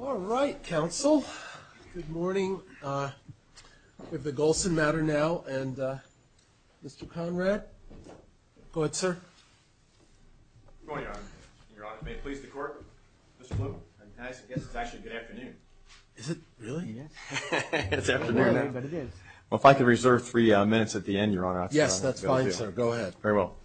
All right, counsel. Good morning. We have the Golson matter now, and Mr. Conrad. Go ahead, sir. Good morning, Your Honor. Your Honor, may it please the Court, Mr. Bloom, I guess it's actually good afternoon. Is it? Really? It's afternoon now. Well, if I could reserve three minutes at the end, Your Honor. Yes, that's fine, sir. Go ahead. Very well.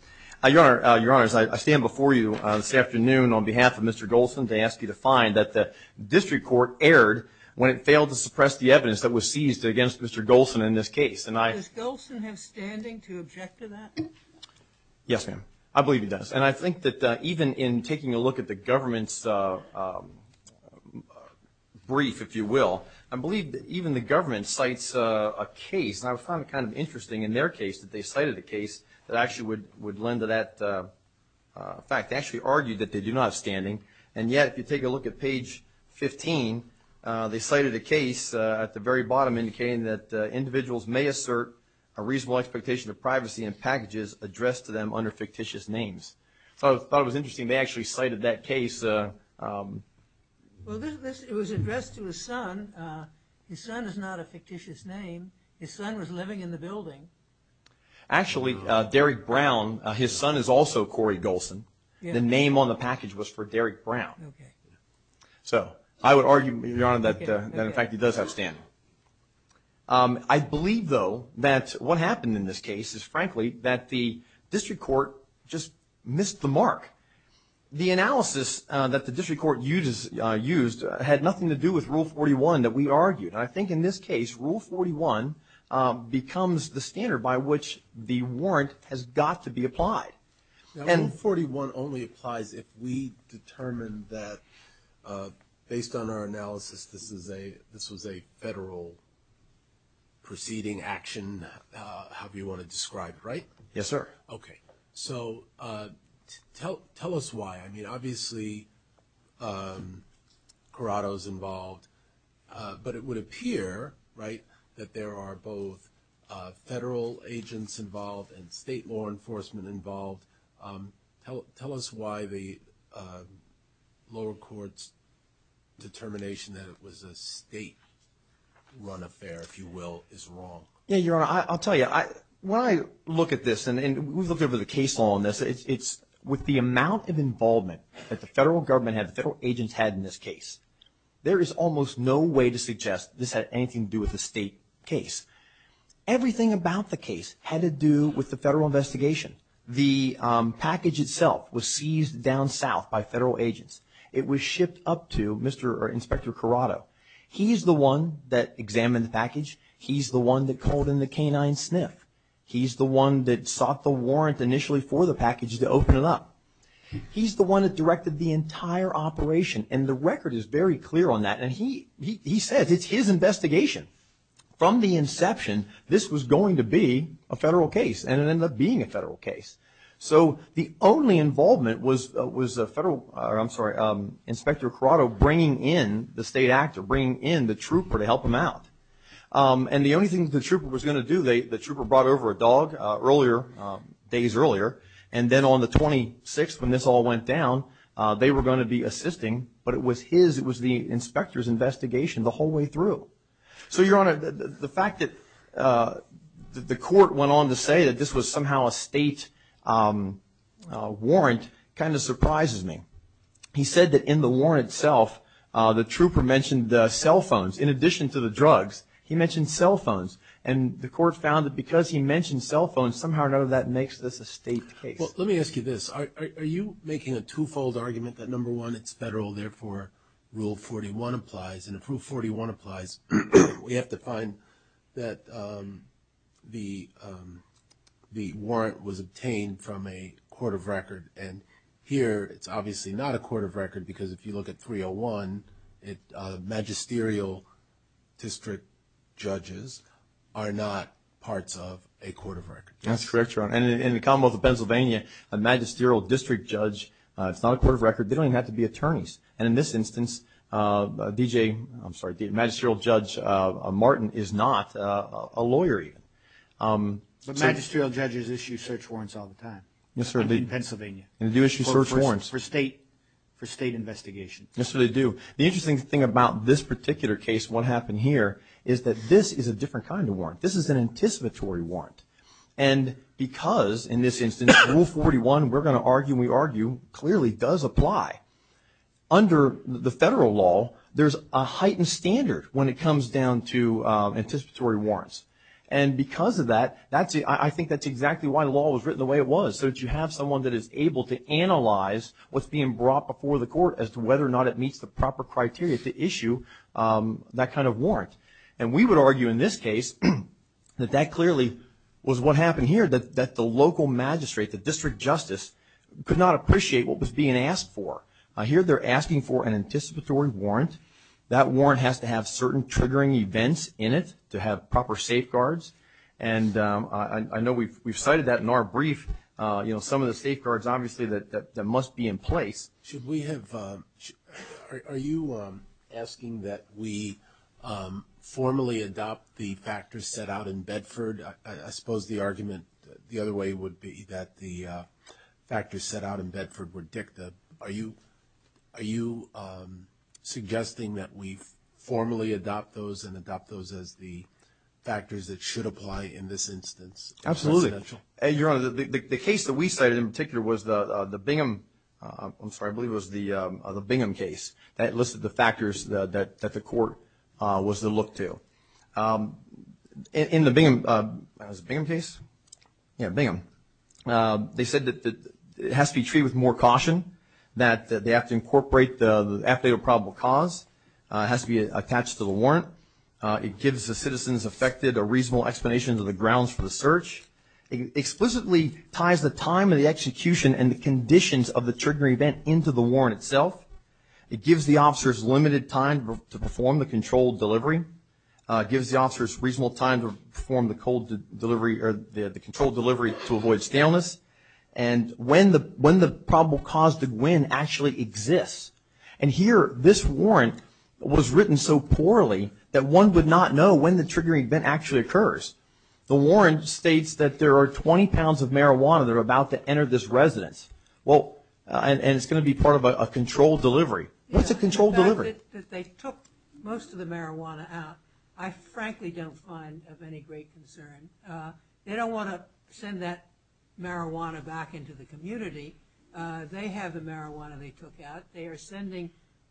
Your Honor, I stand before you this afternoon on behalf of Mr. Golson to ask you to find that the district court erred when it failed to suppress the evidence that was seized against Mr. Golson in this case. Does Golson have standing to object to that? Yes, ma'am. I believe he does. And I think that even in taking a look at the government's brief, if you will, I believe that even the government cites a case, and I found it kind of interesting in their case, that they cited a case that actually would lend to that fact. They actually argued that they do not have standing, and yet if you take a look at page 15, they cited a case at the very bottom indicating that individuals may assert a reasonable expectation of privacy in packages addressed to them under fictitious names. So I thought it was interesting they actually cited that case. Well, it was addressed to his son. His son is not a fictitious name. His son was living in the building. Actually, Derrick Brown, his son is also Corey Golson. The name on the package was for Derrick Brown. So I would argue, Your Honor, that in fact he does have standing. I believe, though, that what happened in this case is frankly that the district court just missed the mark. The analysis that the district court used had nothing to do with Rule 41 that we argued. I think in this case, Rule 41 becomes the standard by which the warrant has got to be applied. Rule 41 only applies if we determine that, based on our analysis, this was a federal proceeding action, however you want to describe it, right? Yes, sir. Okay. So tell us why. I mean, obviously, Corrado is involved, but it would appear, right, that there are both federal agents involved and state law enforcement involved. Tell us why the lower court's determination that it was a state-run affair, if you will, is wrong. Yes, Your Honor. I'll tell you. When I look at this, and we've looked over the case law on this, it's with the amount of involvement that the federal government had, the federal agents had in this case, there is almost no way to suggest this had anything to do with a state case. Everything about the case had to do with the federal investigation. The package itself was seized down south by federal agents. It was shipped up to Mr. or Inspector Corrado. He's the one that examined the package. He's the one that called in the canine sniff. He's the one that sought the warrant initially for the package to open it up. He's the one that directed the entire operation, and the record is very clear on that. And he says it's his investigation. From the inception, this was going to be a federal case, and it ended up being a federal case. So the only involvement was Inspector Corrado bringing in the state actor, bringing in the trooper to help him out. And the only thing the trooper was going to do, the trooper brought over a dog days earlier, and then on the 26th when this all went down, they were going to be assisting, but it was his, it was the inspector's investigation the whole way through. So, Your Honor, the fact that the court went on to say that this was somehow a state warrant kind of surprises me. He said that in the warrant itself, the trooper mentioned cell phones in addition to the drugs. He mentioned cell phones, and the court found that because he mentioned cell phones, somehow none of that makes this a state case. Well, let me ask you this. Are you making a twofold argument that, number one, it's federal, therefore Rule 41 applies? And if Rule 41 applies, we have to find that the warrant was obtained from a court of record, and here it's obviously not a court of record because if you look at 301, magisterial district judges are not parts of a court of record. That's correct, Your Honor. And in the Commonwealth of Pennsylvania, a magisterial district judge, it's not a court of record. They don't even have to be attorneys. And in this instance, DJ, I'm sorry, Magisterial Judge Martin is not a lawyer even. But magisterial judges issue search warrants all the time. Yes, sir. In Pennsylvania. They do issue search warrants. For state investigation. Yes, sir, they do. The interesting thing about this particular case, what happened here, is that this is a different kind of warrant. This is an anticipatory warrant. And because, in this instance, Rule 41, we're going to argue and we argue, clearly does apply. Under the federal law, there's a heightened standard when it comes down to anticipatory warrants. And because of that, I think that's exactly why the law was written the way it was, so that you have someone that is able to analyze what's being brought before the court as to whether or not it meets the proper criteria to issue that kind of warrant. And we would argue in this case that that clearly was what happened here, that the local magistrate, the district justice, could not appreciate what was being asked for. Here they're asking for an anticipatory warrant. That warrant has to have certain triggering events in it to have proper safeguards. And I know we've cited that in our brief, you know, some of the safeguards, obviously, that must be in place. Are you asking that we formally adopt the factors set out in Bedford? I suppose the argument the other way would be that the factors set out in Bedford were dicta. Are you suggesting that we formally adopt those and adopt those as the factors that should apply in this instance? Absolutely. Your Honor, the case that we cited in particular was the Bingham, I'm sorry, I believe it was the Bingham case that listed the factors that the court was to look to. In the Bingham, was it the Bingham case? Yeah, Bingham. They said that it has to be treated with more caution, that they have to incorporate the affidavit of probable cause. It has to be attached to the warrant. It gives the citizens affected a reasonable explanation of the grounds for the search. It explicitly ties the time of the execution and the conditions of the triggering event into the warrant itself. It gives the officers limited time to perform the controlled delivery. It gives the officers reasonable time to perform the controlled delivery to avoid scaleness. And when the probable cause did win actually exists. And here this warrant was written so poorly that one would not know when the triggering event actually occurs. The warrant states that there are 20 pounds of marijuana that are about to enter this residence. And it's going to be part of a controlled delivery. What's a controlled delivery? The fact that they took most of the marijuana out, I frankly don't find of any great concern. They don't want to send that marijuana back into the community. They have the marijuana they took out. They are sending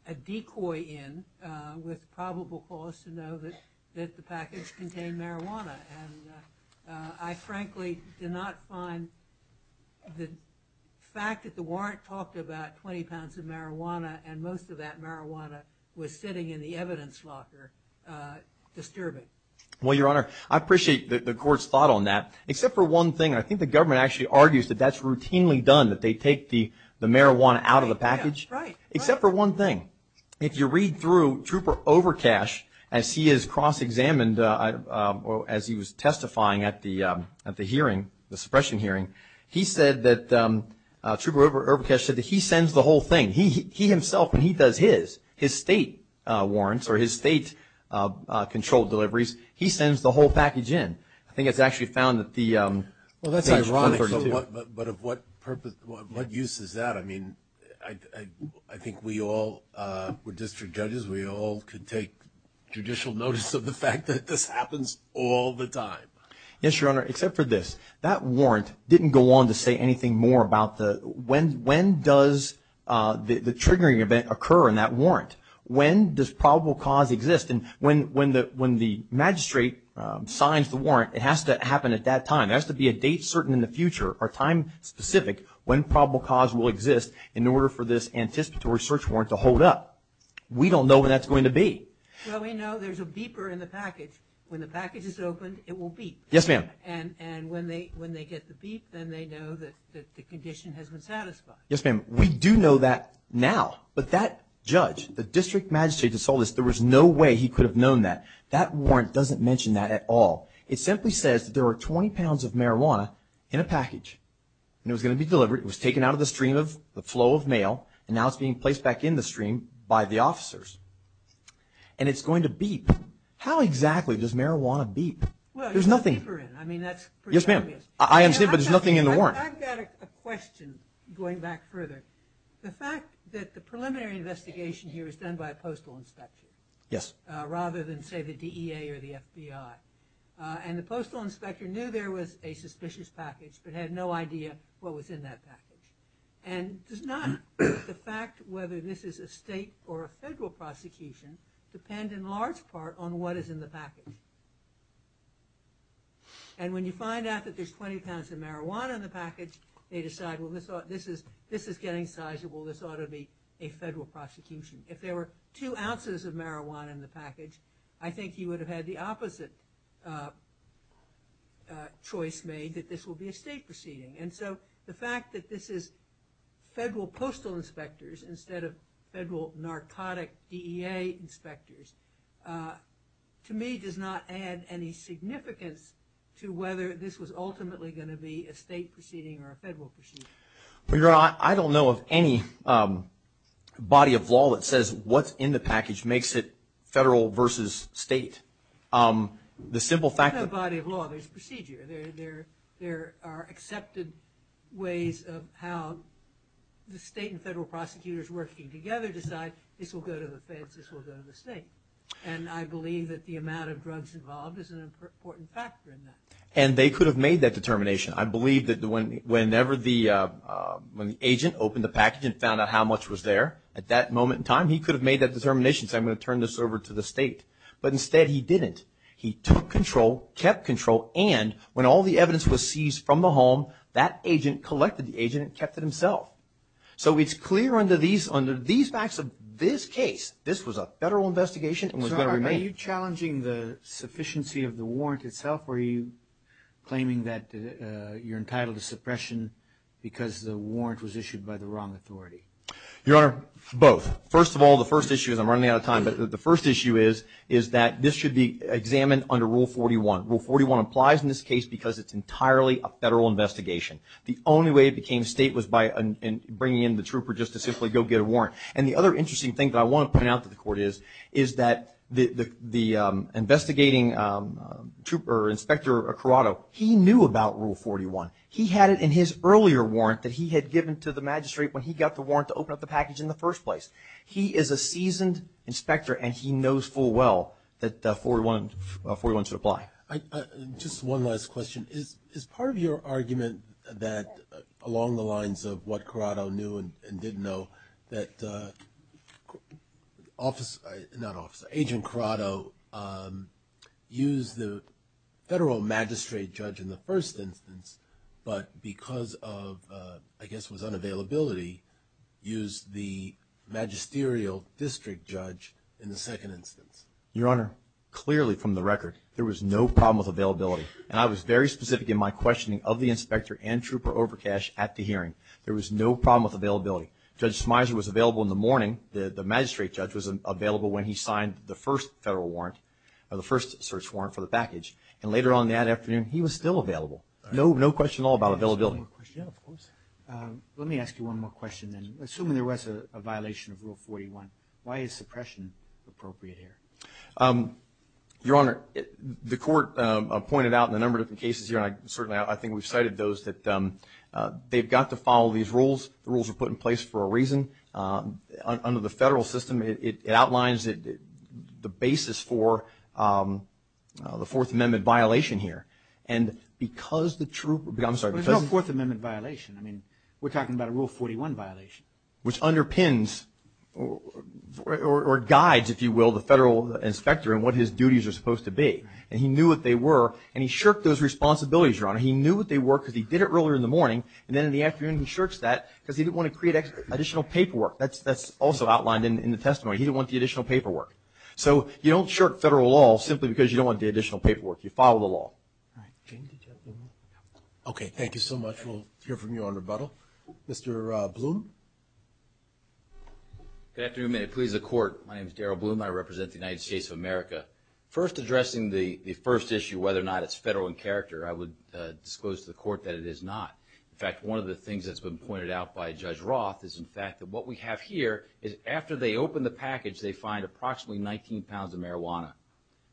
a decoy in with probable cause to know that the package contained marijuana. And I frankly did not find the fact that the warrant talked about 20 pounds of marijuana and most of that marijuana was sitting in the evidence locker disturbing. Well, Your Honor, I appreciate the court's thought on that. Except for one thing, I think the government actually argues that that's routinely done, that they take the marijuana out of the package. Except for one thing. If you read through Trooper Overcash as he is cross-examined or as he was testifying at the hearing, the suppression hearing, he said that Trooper Overcash said that he sends the whole thing. He himself, when he does his, his state warrants or his state controlled deliveries, he sends the whole package in. I think it's actually found that the package. Well, that's ironic. But of what purpose, what use is that? I mean, I think we all, we're district judges, we all could take judicial notice of the fact that this happens all the time. Yes, Your Honor, except for this. That warrant didn't go on to say anything more about the, when does the triggering event occur in that warrant? When does probable cause exist? And when the magistrate signs the warrant, it has to happen at that time. It has to be a date certain in the future or time specific when probable cause will exist in order for this anticipatory search warrant to hold up. We don't know when that's going to be. Well, we know there's a beeper in the package. When the package is opened, it will beep. Yes, ma'am. And when they get the beep, then they know that the condition has been satisfied. Yes, ma'am. We do know that now. But that judge, the district magistrate that saw this, there was no way he could have known that. That warrant doesn't mention that at all. It simply says that there were 20 pounds of marijuana in a package, and it was going to be delivered. It was taken out of the stream of the flow of mail, and now it's being placed back in the stream by the officers. And it's going to beep. How exactly does marijuana beep? Well, there's a beeper in it. I mean, that's pretty obvious. Yes, ma'am. I understand, but there's nothing in the warrant. I've got a question going back further. The fact that the preliminary investigation here was done by a postal inspector rather than, say, the DEA or the FBI, and the postal inspector knew there was a suspicious package but had no idea what was in that package, and does not the fact whether this is a state or a federal prosecution depend in large part on what is in the package? And when you find out that there's 20 pounds of marijuana in the package, they decide, well, this is getting sizable. This ought to be a federal prosecution. If there were two ounces of marijuana in the package, I think he would have had the opposite choice made, that this will be a state proceeding. And so the fact that this is federal postal inspectors instead of federal narcotic DEA inspectors, to me does not add any significance to whether this was ultimately going to be a state proceeding or a federal proceeding. Well, Your Honor, I don't know of any body of law that says what's in the package makes it federal versus state. The simple fact that- There's no body of law. There's procedure. There are accepted ways of how the state and federal prosecutors working together decide, this will go to the feds, this will go to the state. And I believe that the amount of drugs involved is an important factor in that. And they could have made that determination. I believe that whenever the agent opened the package and found out how much was there at that moment in time, he could have made that determination, said, I'm going to turn this over to the state. But instead he didn't. He took control, kept control, and when all the evidence was seized from the home, that agent collected the agent and kept it himself. So it's clear under these facts of this case, this was a federal investigation and was going to remain. So are you challenging the sufficiency of the warrant itself, or are you claiming that you're entitled to suppression because the warrant was issued by the wrong authority? Your Honor, both. It was examined under Rule 41. Rule 41 applies in this case because it's entirely a federal investigation. The only way it became state was by bringing in the trooper just to simply go get a warrant. And the other interesting thing that I want to point out to the Court is, is that the investigating trooper, Inspector Corrado, he knew about Rule 41. He had it in his earlier warrant that he had given to the magistrate when he got the warrant to open up the package in the first place. He is a seasoned inspector, and he knows full well that Rule 41 should apply. Just one last question. Is part of your argument that along the lines of what Corrado knew and didn't know, that Agent Corrado used the federal magistrate judge in the first instance, but because of, I guess it was unavailability, used the magisterial district judge in the second instance? Your Honor, clearly from the record, there was no problem with availability. And I was very specific in my questioning of the inspector and trooper Overcash at the hearing. There was no problem with availability. Judge Smyser was available in the morning. The magistrate judge was available when he signed the first federal warrant, or the first search warrant for the package. And later on that afternoon, he was still available. No question at all about availability. Yeah, of course. Let me ask you one more question then. Assuming there was a violation of Rule 41, why is suppression appropriate here? Your Honor, the court pointed out in a number of different cases here, and certainly I think we've cited those, that they've got to follow these rules. The rules are put in place for a reason. Under the federal system, it outlines the basis for the Fourth Amendment violation here. There's no Fourth Amendment violation. I mean, we're talking about a Rule 41 violation. Which underpins or guides, if you will, the federal inspector and what his duties are supposed to be. And he knew what they were, and he shirked those responsibilities, Your Honor. He knew what they were because he did it earlier in the morning, and then in the afternoon he shirks that because he didn't want to create additional paperwork. That's also outlined in the testimony. He didn't want the additional paperwork. So you don't shirk federal law simply because you don't want the additional paperwork. You follow the law. Okay, thank you so much. We'll hear from you on rebuttal. Mr. Bloom. Good afternoon. Please, the Court. My name is Darrell Bloom. I represent the United States of America. First, addressing the first issue, whether or not it's federal in character, I would disclose to the Court that it is not. In fact, one of the things that's been pointed out by Judge Roth is, in fact, that what we have here is after they open the package, they find approximately 19 pounds of marijuana.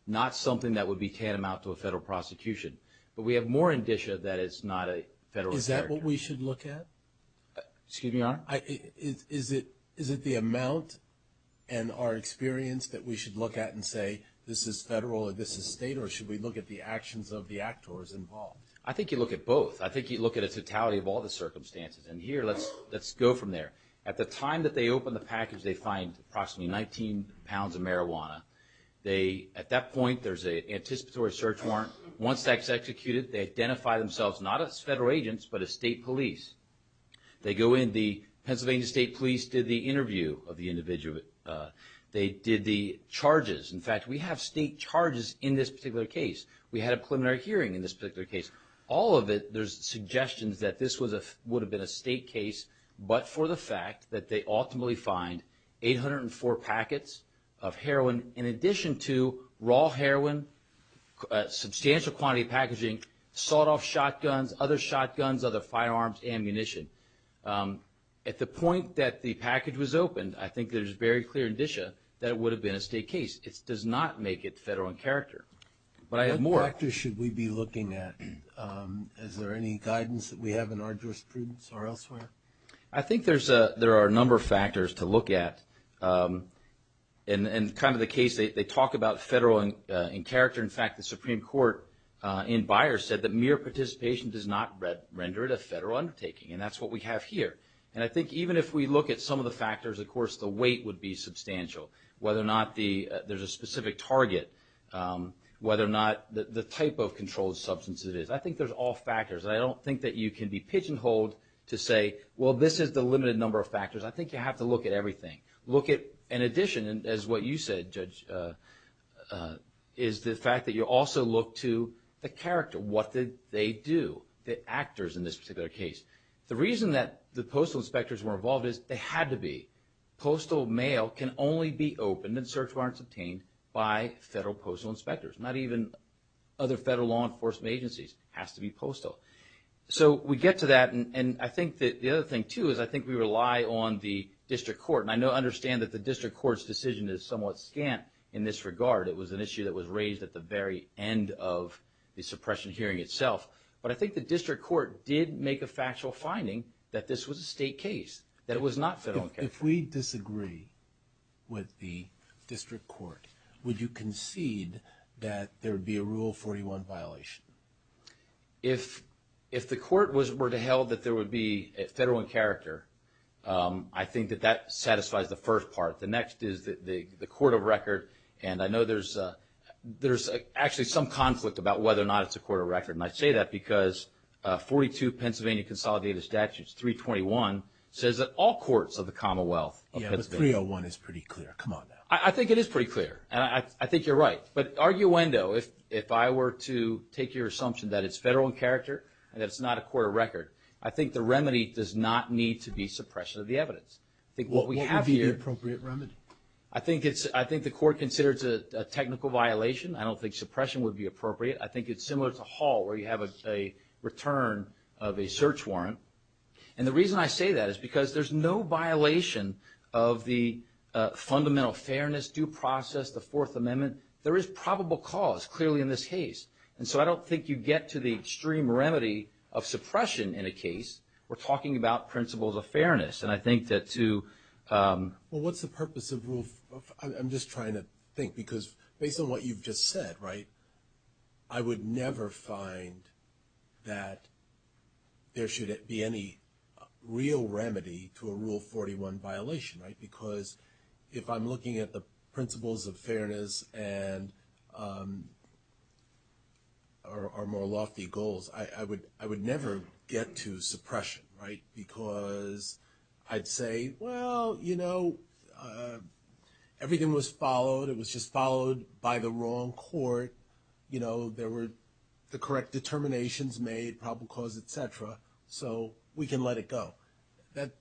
Not something that would be tantamount to a federal prosecution. But we have more indicia that it's not a federal character. Is that what we should look at? Excuse me, Your Honor? Is it the amount and our experience that we should look at and say, this is federal or this is state, or should we look at the actions of the actors involved? I think you look at both. I think you look at a totality of all the circumstances. And here, let's go from there. At the time that they open the package, they find approximately 19 pounds of marijuana. At that point, there's an anticipatory search warrant. Once that's executed, they identify themselves not as federal agents but as state police. They go in. The Pennsylvania State Police did the interview of the individual. They did the charges. In fact, we have state charges in this particular case. We had a preliminary hearing in this particular case. All of it, there's suggestions that this would have been a state case, but for the fact that they ultimately find 804 packets of heroin, in addition to raw heroin, substantial quantity of packaging, sawed-off shotguns, other shotguns, other firearms, ammunition. At the point that the package was opened, I think there's very clear indicia that it would have been a state case. It does not make it federal in character. But I have more. What factors should we be looking at? Is there any guidance that we have in our jurisprudence or elsewhere? I think there are a number of factors to look at. In kind of the case, they talk about federal in character. In fact, the Supreme Court in Byers said that mere participation does not render it a federal undertaking, and that's what we have here. I think even if we look at some of the factors, of course, the weight would be substantial, whether or not there's a specific target, whether or not the type of controlled substance it is. I think there's all factors, and I don't think that you can be pigeonholed to say, well, this is the limited number of factors. I think you have to look at everything. Look at, in addition, as what you said, Judge, is the fact that you also look to the character. What did they do, the actors in this particular case? The reason that the postal inspectors were involved is they had to be. Postal mail can only be opened in search warrants obtained by federal postal inspectors. Not even other federal law enforcement agencies. It has to be postal. So we get to that, and I think that the other thing, too, is I think we rely on the district court. And I understand that the district court's decision is somewhat scant in this regard. It was an issue that was raised at the very end of the suppression hearing itself. But I think the district court did make a factual finding that this was a state case, that it was not federal in character. If we disagree with the district court, would you concede that there would be a Rule 41 violation? If the court were to held that there would be federal in character, I think that that satisfies the first part. The next is the court of record. And I know there's actually some conflict about whether or not it's a court of record. And I say that because 42 Pennsylvania Consolidated Statutes, 321, says that all courts of the Commonwealth of Pennsylvania. Yeah, but 301 is pretty clear. Come on now. I think it is pretty clear, and I think you're right. But arguendo, if I were to take your assumption that it's federal in character and that it's not a court of record, I think the remedy does not need to be suppression of the evidence. What would be the appropriate remedy? I think the court considers it a technical violation. I don't think suppression would be appropriate. I think it's similar to Hall where you have a return of a search warrant. And the reason I say that is because there's no violation of the fundamental fairness, due process, the Fourth Amendment. There is probable cause clearly in this case. And so I don't think you get to the extreme remedy of suppression in a case. We're talking about principles of fairness. And I think that to – Well, what's the purpose of rule – I'm just trying to think. Because based on what you've just said, right, I would never find that there should be any real remedy to a Rule 41 violation, right? Because if I'm looking at the principles of fairness and – or more lofty goals, I would never get to suppression, right? Because I'd say, well, you know, everything was followed. It was just followed by the wrong court. You know, there were the correct determinations made, probable cause, et cetera, so we can let it go.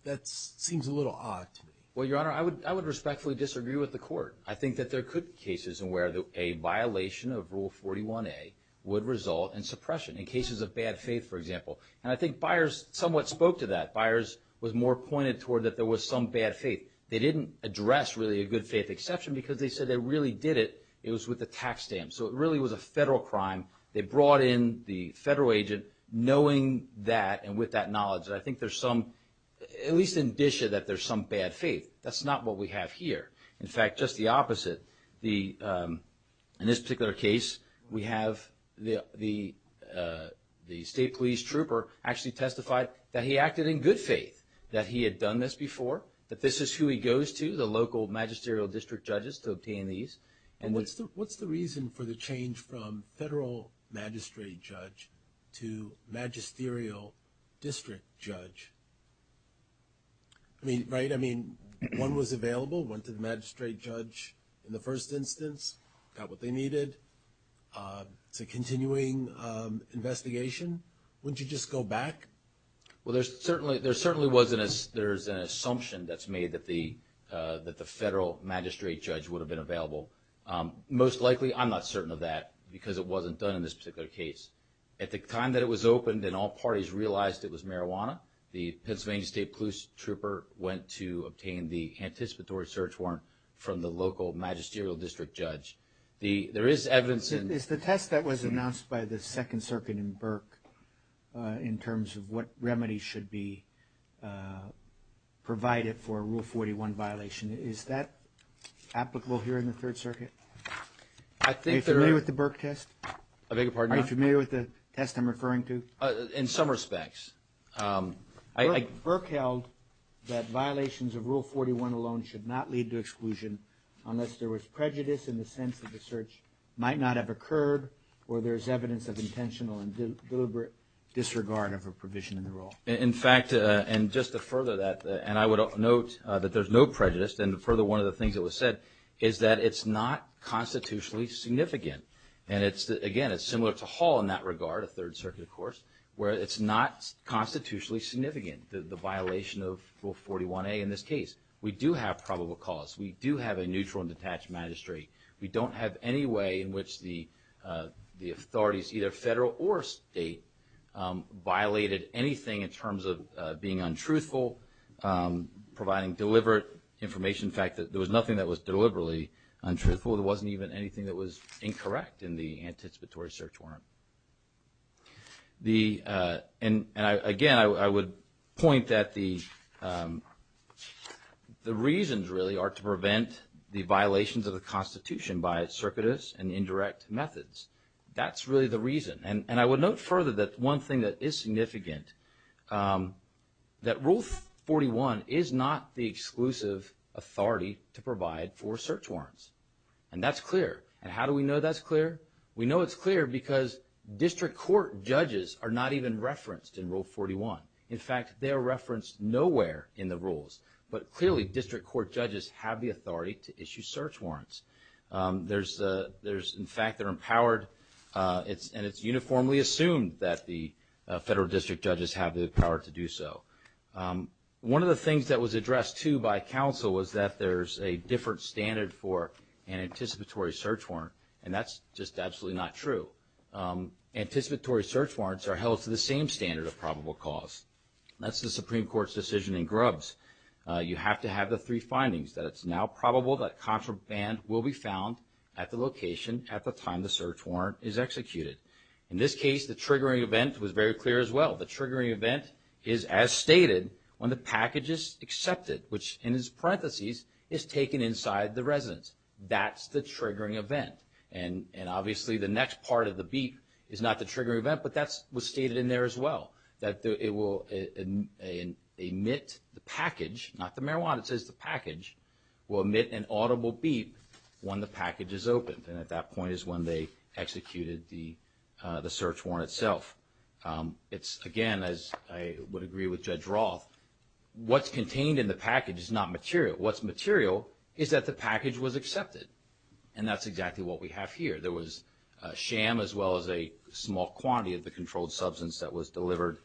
That seems a little odd to me. Well, Your Honor, I would respectfully disagree with the court. I think that there could be cases where a violation of Rule 41A would result in suppression, in cases of bad faith, for example. And I think Byers somewhat spoke to that. Byers was more pointed toward that there was some bad faith. They didn't address, really, a good faith exception because they said they really did it. It was with a tax stamp. So it really was a federal crime. They brought in the federal agent knowing that and with that knowledge. And I think there's some – at least indicia that there's some bad faith. That's not what we have here. In fact, just the opposite. In this particular case, we have the state police trooper actually testified that he acted in good faith, that he had done this before, that this is who he goes to, the local magisterial district judges, to obtain these. And what's the reason for the change from federal magistrate judge to magisterial district judge? I mean, right? I mean, one was available, went to the magistrate judge in the first instance, got what they needed. It's a continuing investigation. Wouldn't you just go back? Well, there certainly wasn't a – there's an assumption that's made that the federal magistrate judge would have been available. Most likely, I'm not certain of that because it wasn't done in this particular case. At the time that it was opened and all parties realized it was marijuana, the Pennsylvania state police trooper went to obtain the anticipatory search warrant from the local magisterial district judge. There is evidence in – Is the test that was announced by the Second Circuit in Burke in terms of what remedy should be provided for a Rule 41 violation, is that applicable here in the Third Circuit? I think there – Are you familiar with the Burke test? I beg your pardon? Are you familiar with the test I'm referring to? In some respects. Burke held that violations of Rule 41 alone should not lead to exclusion unless there was prejudice in the sense that the search might not have occurred or there's evidence of intentional and deliberate disregard of a provision in the rule. In fact, and just to further that, and I would note that there's no prejudice. And further, one of the things that was said is that it's not constitutionally significant. And it's – again, it's similar to Hall in that regard, a Third Circuit, of course, where it's not constitutionally significant, the violation of Rule 41A in this case. We do have probable cause. We do have a neutral and detached magistrate. We don't have any way in which the authorities, either federal or state, violated anything in terms of being untruthful, providing deliberate information. In fact, there was nothing that was deliberately untruthful. There wasn't even anything that was incorrect in the anticipatory search warrant. And again, I would point that the reasons really are to prevent the violations of the Constitution by circuitous and indirect methods. That's really the reason. And I would note further that one thing that is significant, that Rule 41 is not the exclusive authority to provide for search warrants. And that's clear. And how do we know that's clear? We know it's clear because district court judges are not even referenced in Rule 41. In fact, they are referenced nowhere in the rules. But clearly, district court judges have the authority to issue search warrants. In fact, they're empowered. And it's uniformly assumed that the federal district judges have the power to do so. One of the things that was addressed, too, by counsel was that there's a different standard for an anticipatory search warrant, and that's just absolutely not true. Anticipatory search warrants are held to the same standard of probable cause. That's the Supreme Court's decision in Grubbs. You have to have the three findings, that it's now probable that contraband will be found at the location at the time the search warrant is executed. In this case, the triggering event was very clear as well. The triggering event is as stated when the package is accepted, which in parentheses is taken inside the residence. That's the triggering event. And obviously the next part of the beep is not the triggering event, but that was stated in there as well. That it will emit the package, not the marijuana, it says the package, will emit an audible beep when the package is opened. And at that point is when they executed the search warrant itself. It's, again, as I would agree with Judge Roth, what's contained in the package is not material. What's material is that the package was accepted. And that's exactly what we have here. There was sham as well as a small quantity of the controlled substance that was delivered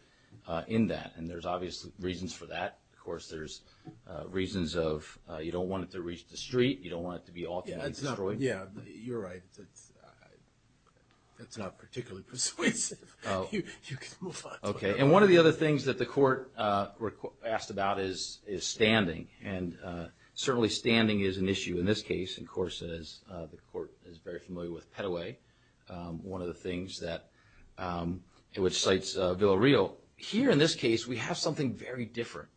in that. And there's obvious reasons for that. Of course, there's reasons of you don't want it to reach the street, you don't want it to be automatically destroyed. Yeah, you're right. That's not particularly persuasive. You can move on to another one. Okay, and one of the other things that the court asked about is standing. And certainly standing is an issue in this case. And, of course, the court is very familiar with Petaway, one of the things which cites Villarreal. Here in this case, we have something very different.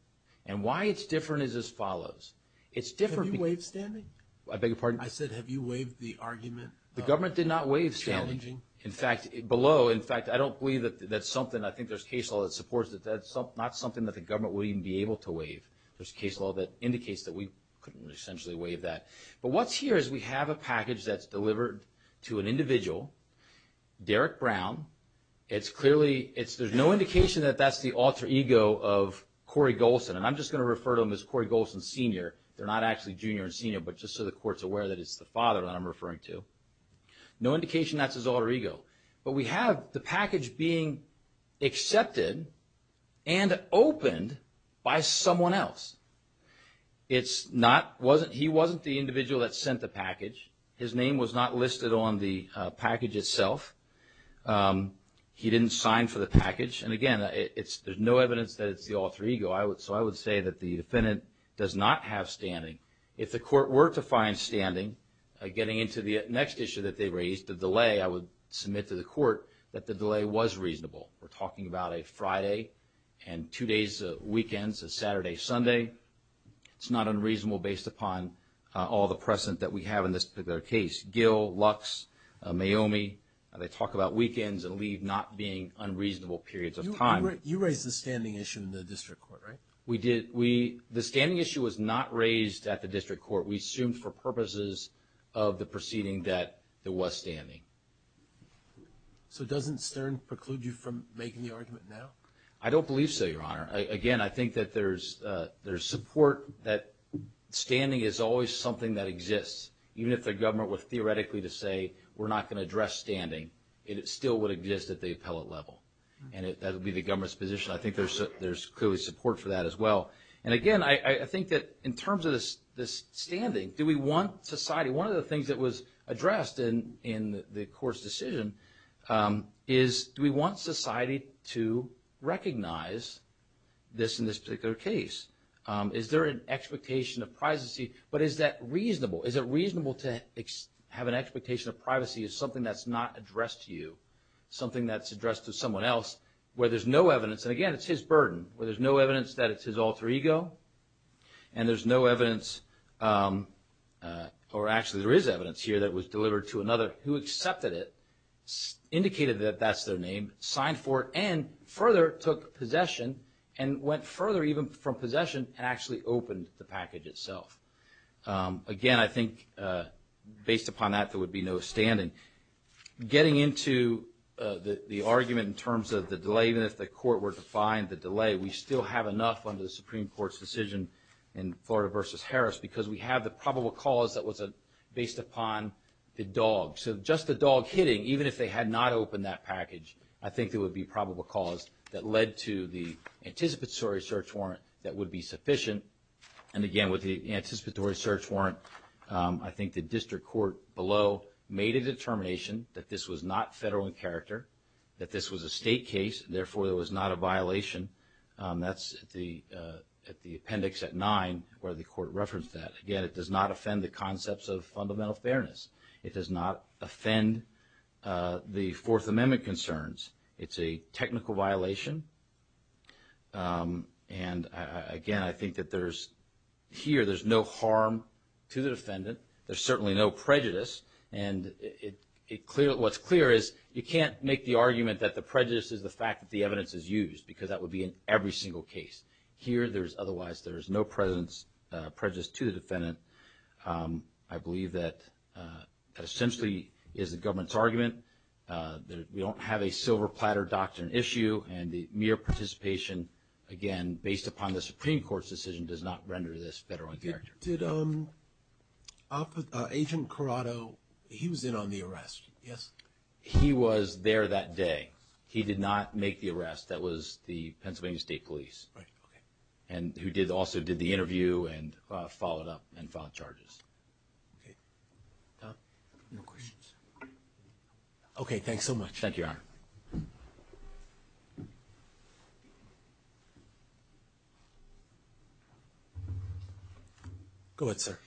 And why it's different is as follows. Have you waived standing? I beg your pardon? I said have you waived the argument? The government did not waive standing. Challenging. In fact, below, in fact, I don't believe that that's something. I think there's case law that supports that that's not something that the government would even be able to waive. There's case law that indicates that we couldn't essentially waive that. But what's here is we have a package that's delivered to an individual, Derrick Brown. There's no indication that that's the alter ego of Corey Golson. And I'm just going to refer to him as Corey Golson Sr. They're not actually junior and senior, but just so the court's aware that it's the father that I'm referring to. No indication that's his alter ego. But we have the package being accepted and opened by someone else. It's not he wasn't the individual that sent the package. His name was not listed on the package itself. He didn't sign for the package. And, again, there's no evidence that it's the alter ego. So I would say that the defendant does not have standing. If the court were to find standing, getting into the next issue that they raised, the delay, I would submit to the court that the delay was reasonable. We're talking about a Friday and two days of weekends, a Saturday, Sunday. It's not unreasonable based upon all the precedent that we have in this particular case. Gill, Lux, Mayomi, they talk about weekends and leave not being unreasonable periods of time. You raised the standing issue in the district court, right? We did. The standing issue was not raised at the district court. We assumed for purposes of the proceeding that there was standing. So doesn't Stern preclude you from making the argument now? I don't believe so, Your Honor. Again, I think that there's support that standing is always something that exists. Even if the government were theoretically to say we're not going to address standing, it still would exist at the appellate level. And that would be the government's position. I think there's clearly support for that as well. And, again, I think that in terms of this standing, do we want society? One of the things that was addressed in the court's decision is do we want society to recognize this in this particular case? Is there an expectation of privacy? But is that reasonable? Is it reasonable to have an expectation of privacy as something that's not addressed to you, something that's addressed to someone else where there's no evidence? And, again, it's his burden where there's no evidence that it's his alter ego and there's no evidence or actually there is evidence here that was delivered to another who accepted it, indicated that that's their name, signed for it, and further took possession and went further even from possession and actually opened the package itself. Again, I think based upon that there would be no standing. And getting into the argument in terms of the delay, even if the court were to find the delay, we still have enough under the Supreme Court's decision in Florida v. Harris because we have the probable cause that was based upon the dog. So just the dog hitting, even if they had not opened that package, I think there would be probable cause that led to the anticipatory search warrant that would be sufficient. And, again, with the anticipatory search warrant, I think the district court below made a determination that this was not federal in character, that this was a state case, therefore it was not a violation. That's at the appendix at 9 where the court referenced that. Again, it does not offend the concepts of fundamental fairness. It does not offend the Fourth Amendment concerns. It's a technical violation. And, again, I think that here there's no harm to the defendant. There's certainly no prejudice. And what's clear is you can't make the argument that the prejudice is the fact that the evidence is used because that would be in every single case. Here, otherwise, there is no prejudice to the defendant. I believe that essentially is the government's argument. We don't have a silver platter doctrine issue, and the mere participation, again, based upon the Supreme Court's decision does not render this federal in character. Did Agent Corrado, he was in on the arrest, yes? He was there that day. He did not make the arrest. That was the Pennsylvania State Police. Right, okay. And who also did the interview and followed up and filed charges. Okay. No questions. Okay, thanks so much. Thank you, Your Honor. Go ahead, sir.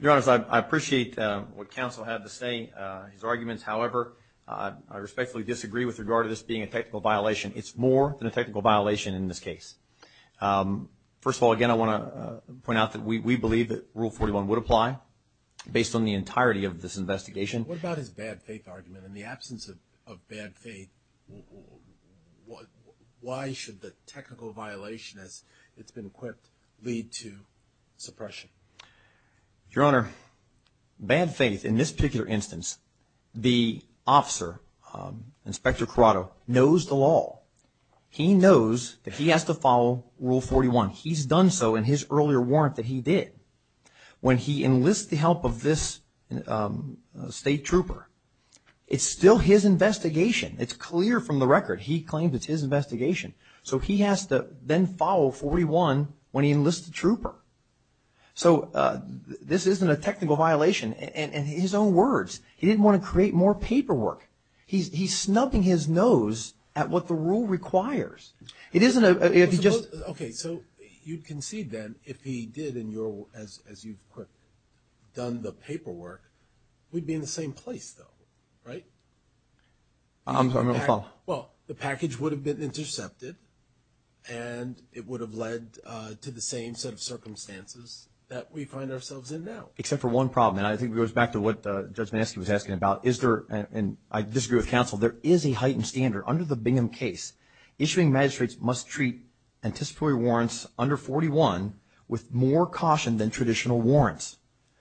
Your Honors, I appreciate what counsel had to say, his arguments. However, I respectfully disagree with regard to this being a technical violation. It's more than a technical violation in this case. First of all, again, I want to point out that we believe that Rule 41 would apply, based on the entirety of this investigation. What about his bad faith argument? In the absence of bad faith, why should the technical violation, as it's been equipped, lead to suppression? Your Honor, bad faith in this particular instance, the officer, Inspector Corrado, knows the law. He knows that he has to follow Rule 41. He's done so in his earlier warrant that he did. When he enlists the help of this state trooper, it's still his investigation. It's clear from the record. He claims it's his investigation. So he has to then follow 41 when he enlists the trooper. So this isn't a technical violation. In his own words, he didn't want to create more paperwork. He's snubbing his nose at what the rule requires. Okay, so you concede then if he did, as you've done the paperwork, we'd be in the same place, though, right? I'm sorry, I'm going to fall. Well, the package would have been intercepted, and it would have led to the same set of circumstances that we find ourselves in now. Except for one problem, and I think it goes back to what Judge Manisky was asking about. I disagree with counsel. There is a heightened standard. Under the Bingham case, issuing magistrates must treat anticipatory warrants under 41 with more caution than traditional warrants.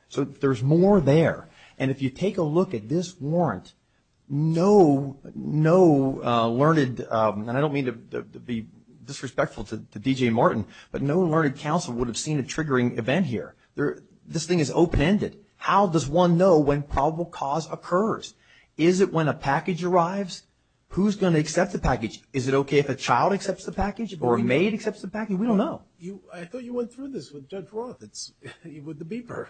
So there's more there. And if you take a look at this warrant, no learned, and I don't mean to be disrespectful to D.J. Martin, but no learned counsel would have seen a triggering event here. This thing is open-ended. How does one know when probable cause occurs? Is it when a package arrives? Who's going to accept the package? Is it okay if a child accepts the package or a maid accepts the package? We don't know. I thought you went through this with Judge Roth, with the beeper.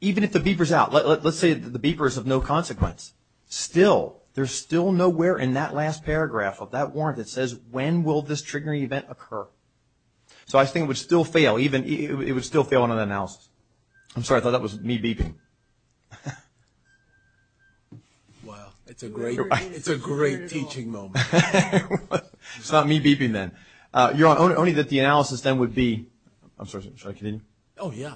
Even if the beeper's out, let's say the beeper is of no consequence. Still, there's still nowhere in that last paragraph of that warrant that says, when will this triggering event occur? So I think it would still fail. It would still fail on an analysis. I'm sorry. I thought that was me beeping. Wow. It's a great teaching moment. It's not me beeping then. Your Honor, only that the analysis then would be, I'm sorry, should I continue? Oh, yeah.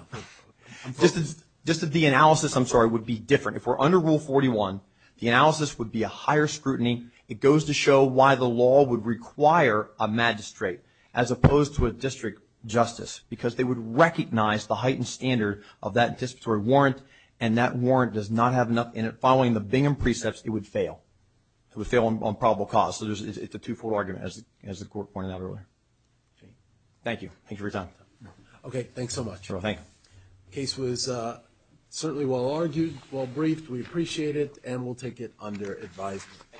Just that the analysis, I'm sorry, would be different. If we're under Rule 41, the analysis would be a higher scrutiny. It goes to show why the law would require a magistrate as opposed to a district justice, because they would recognize the heightened standard of that anticipatory warrant, and that warrant does not have enough in it. Following the Bingham precepts, it would fail. It would fail on probable cause. It's a two-fold argument, as the Court pointed out earlier. Thank you. Thanks for your time. Okay. Thanks so much. The case was certainly well-argued, well-briefed. We appreciate it, and we'll take it under advisement.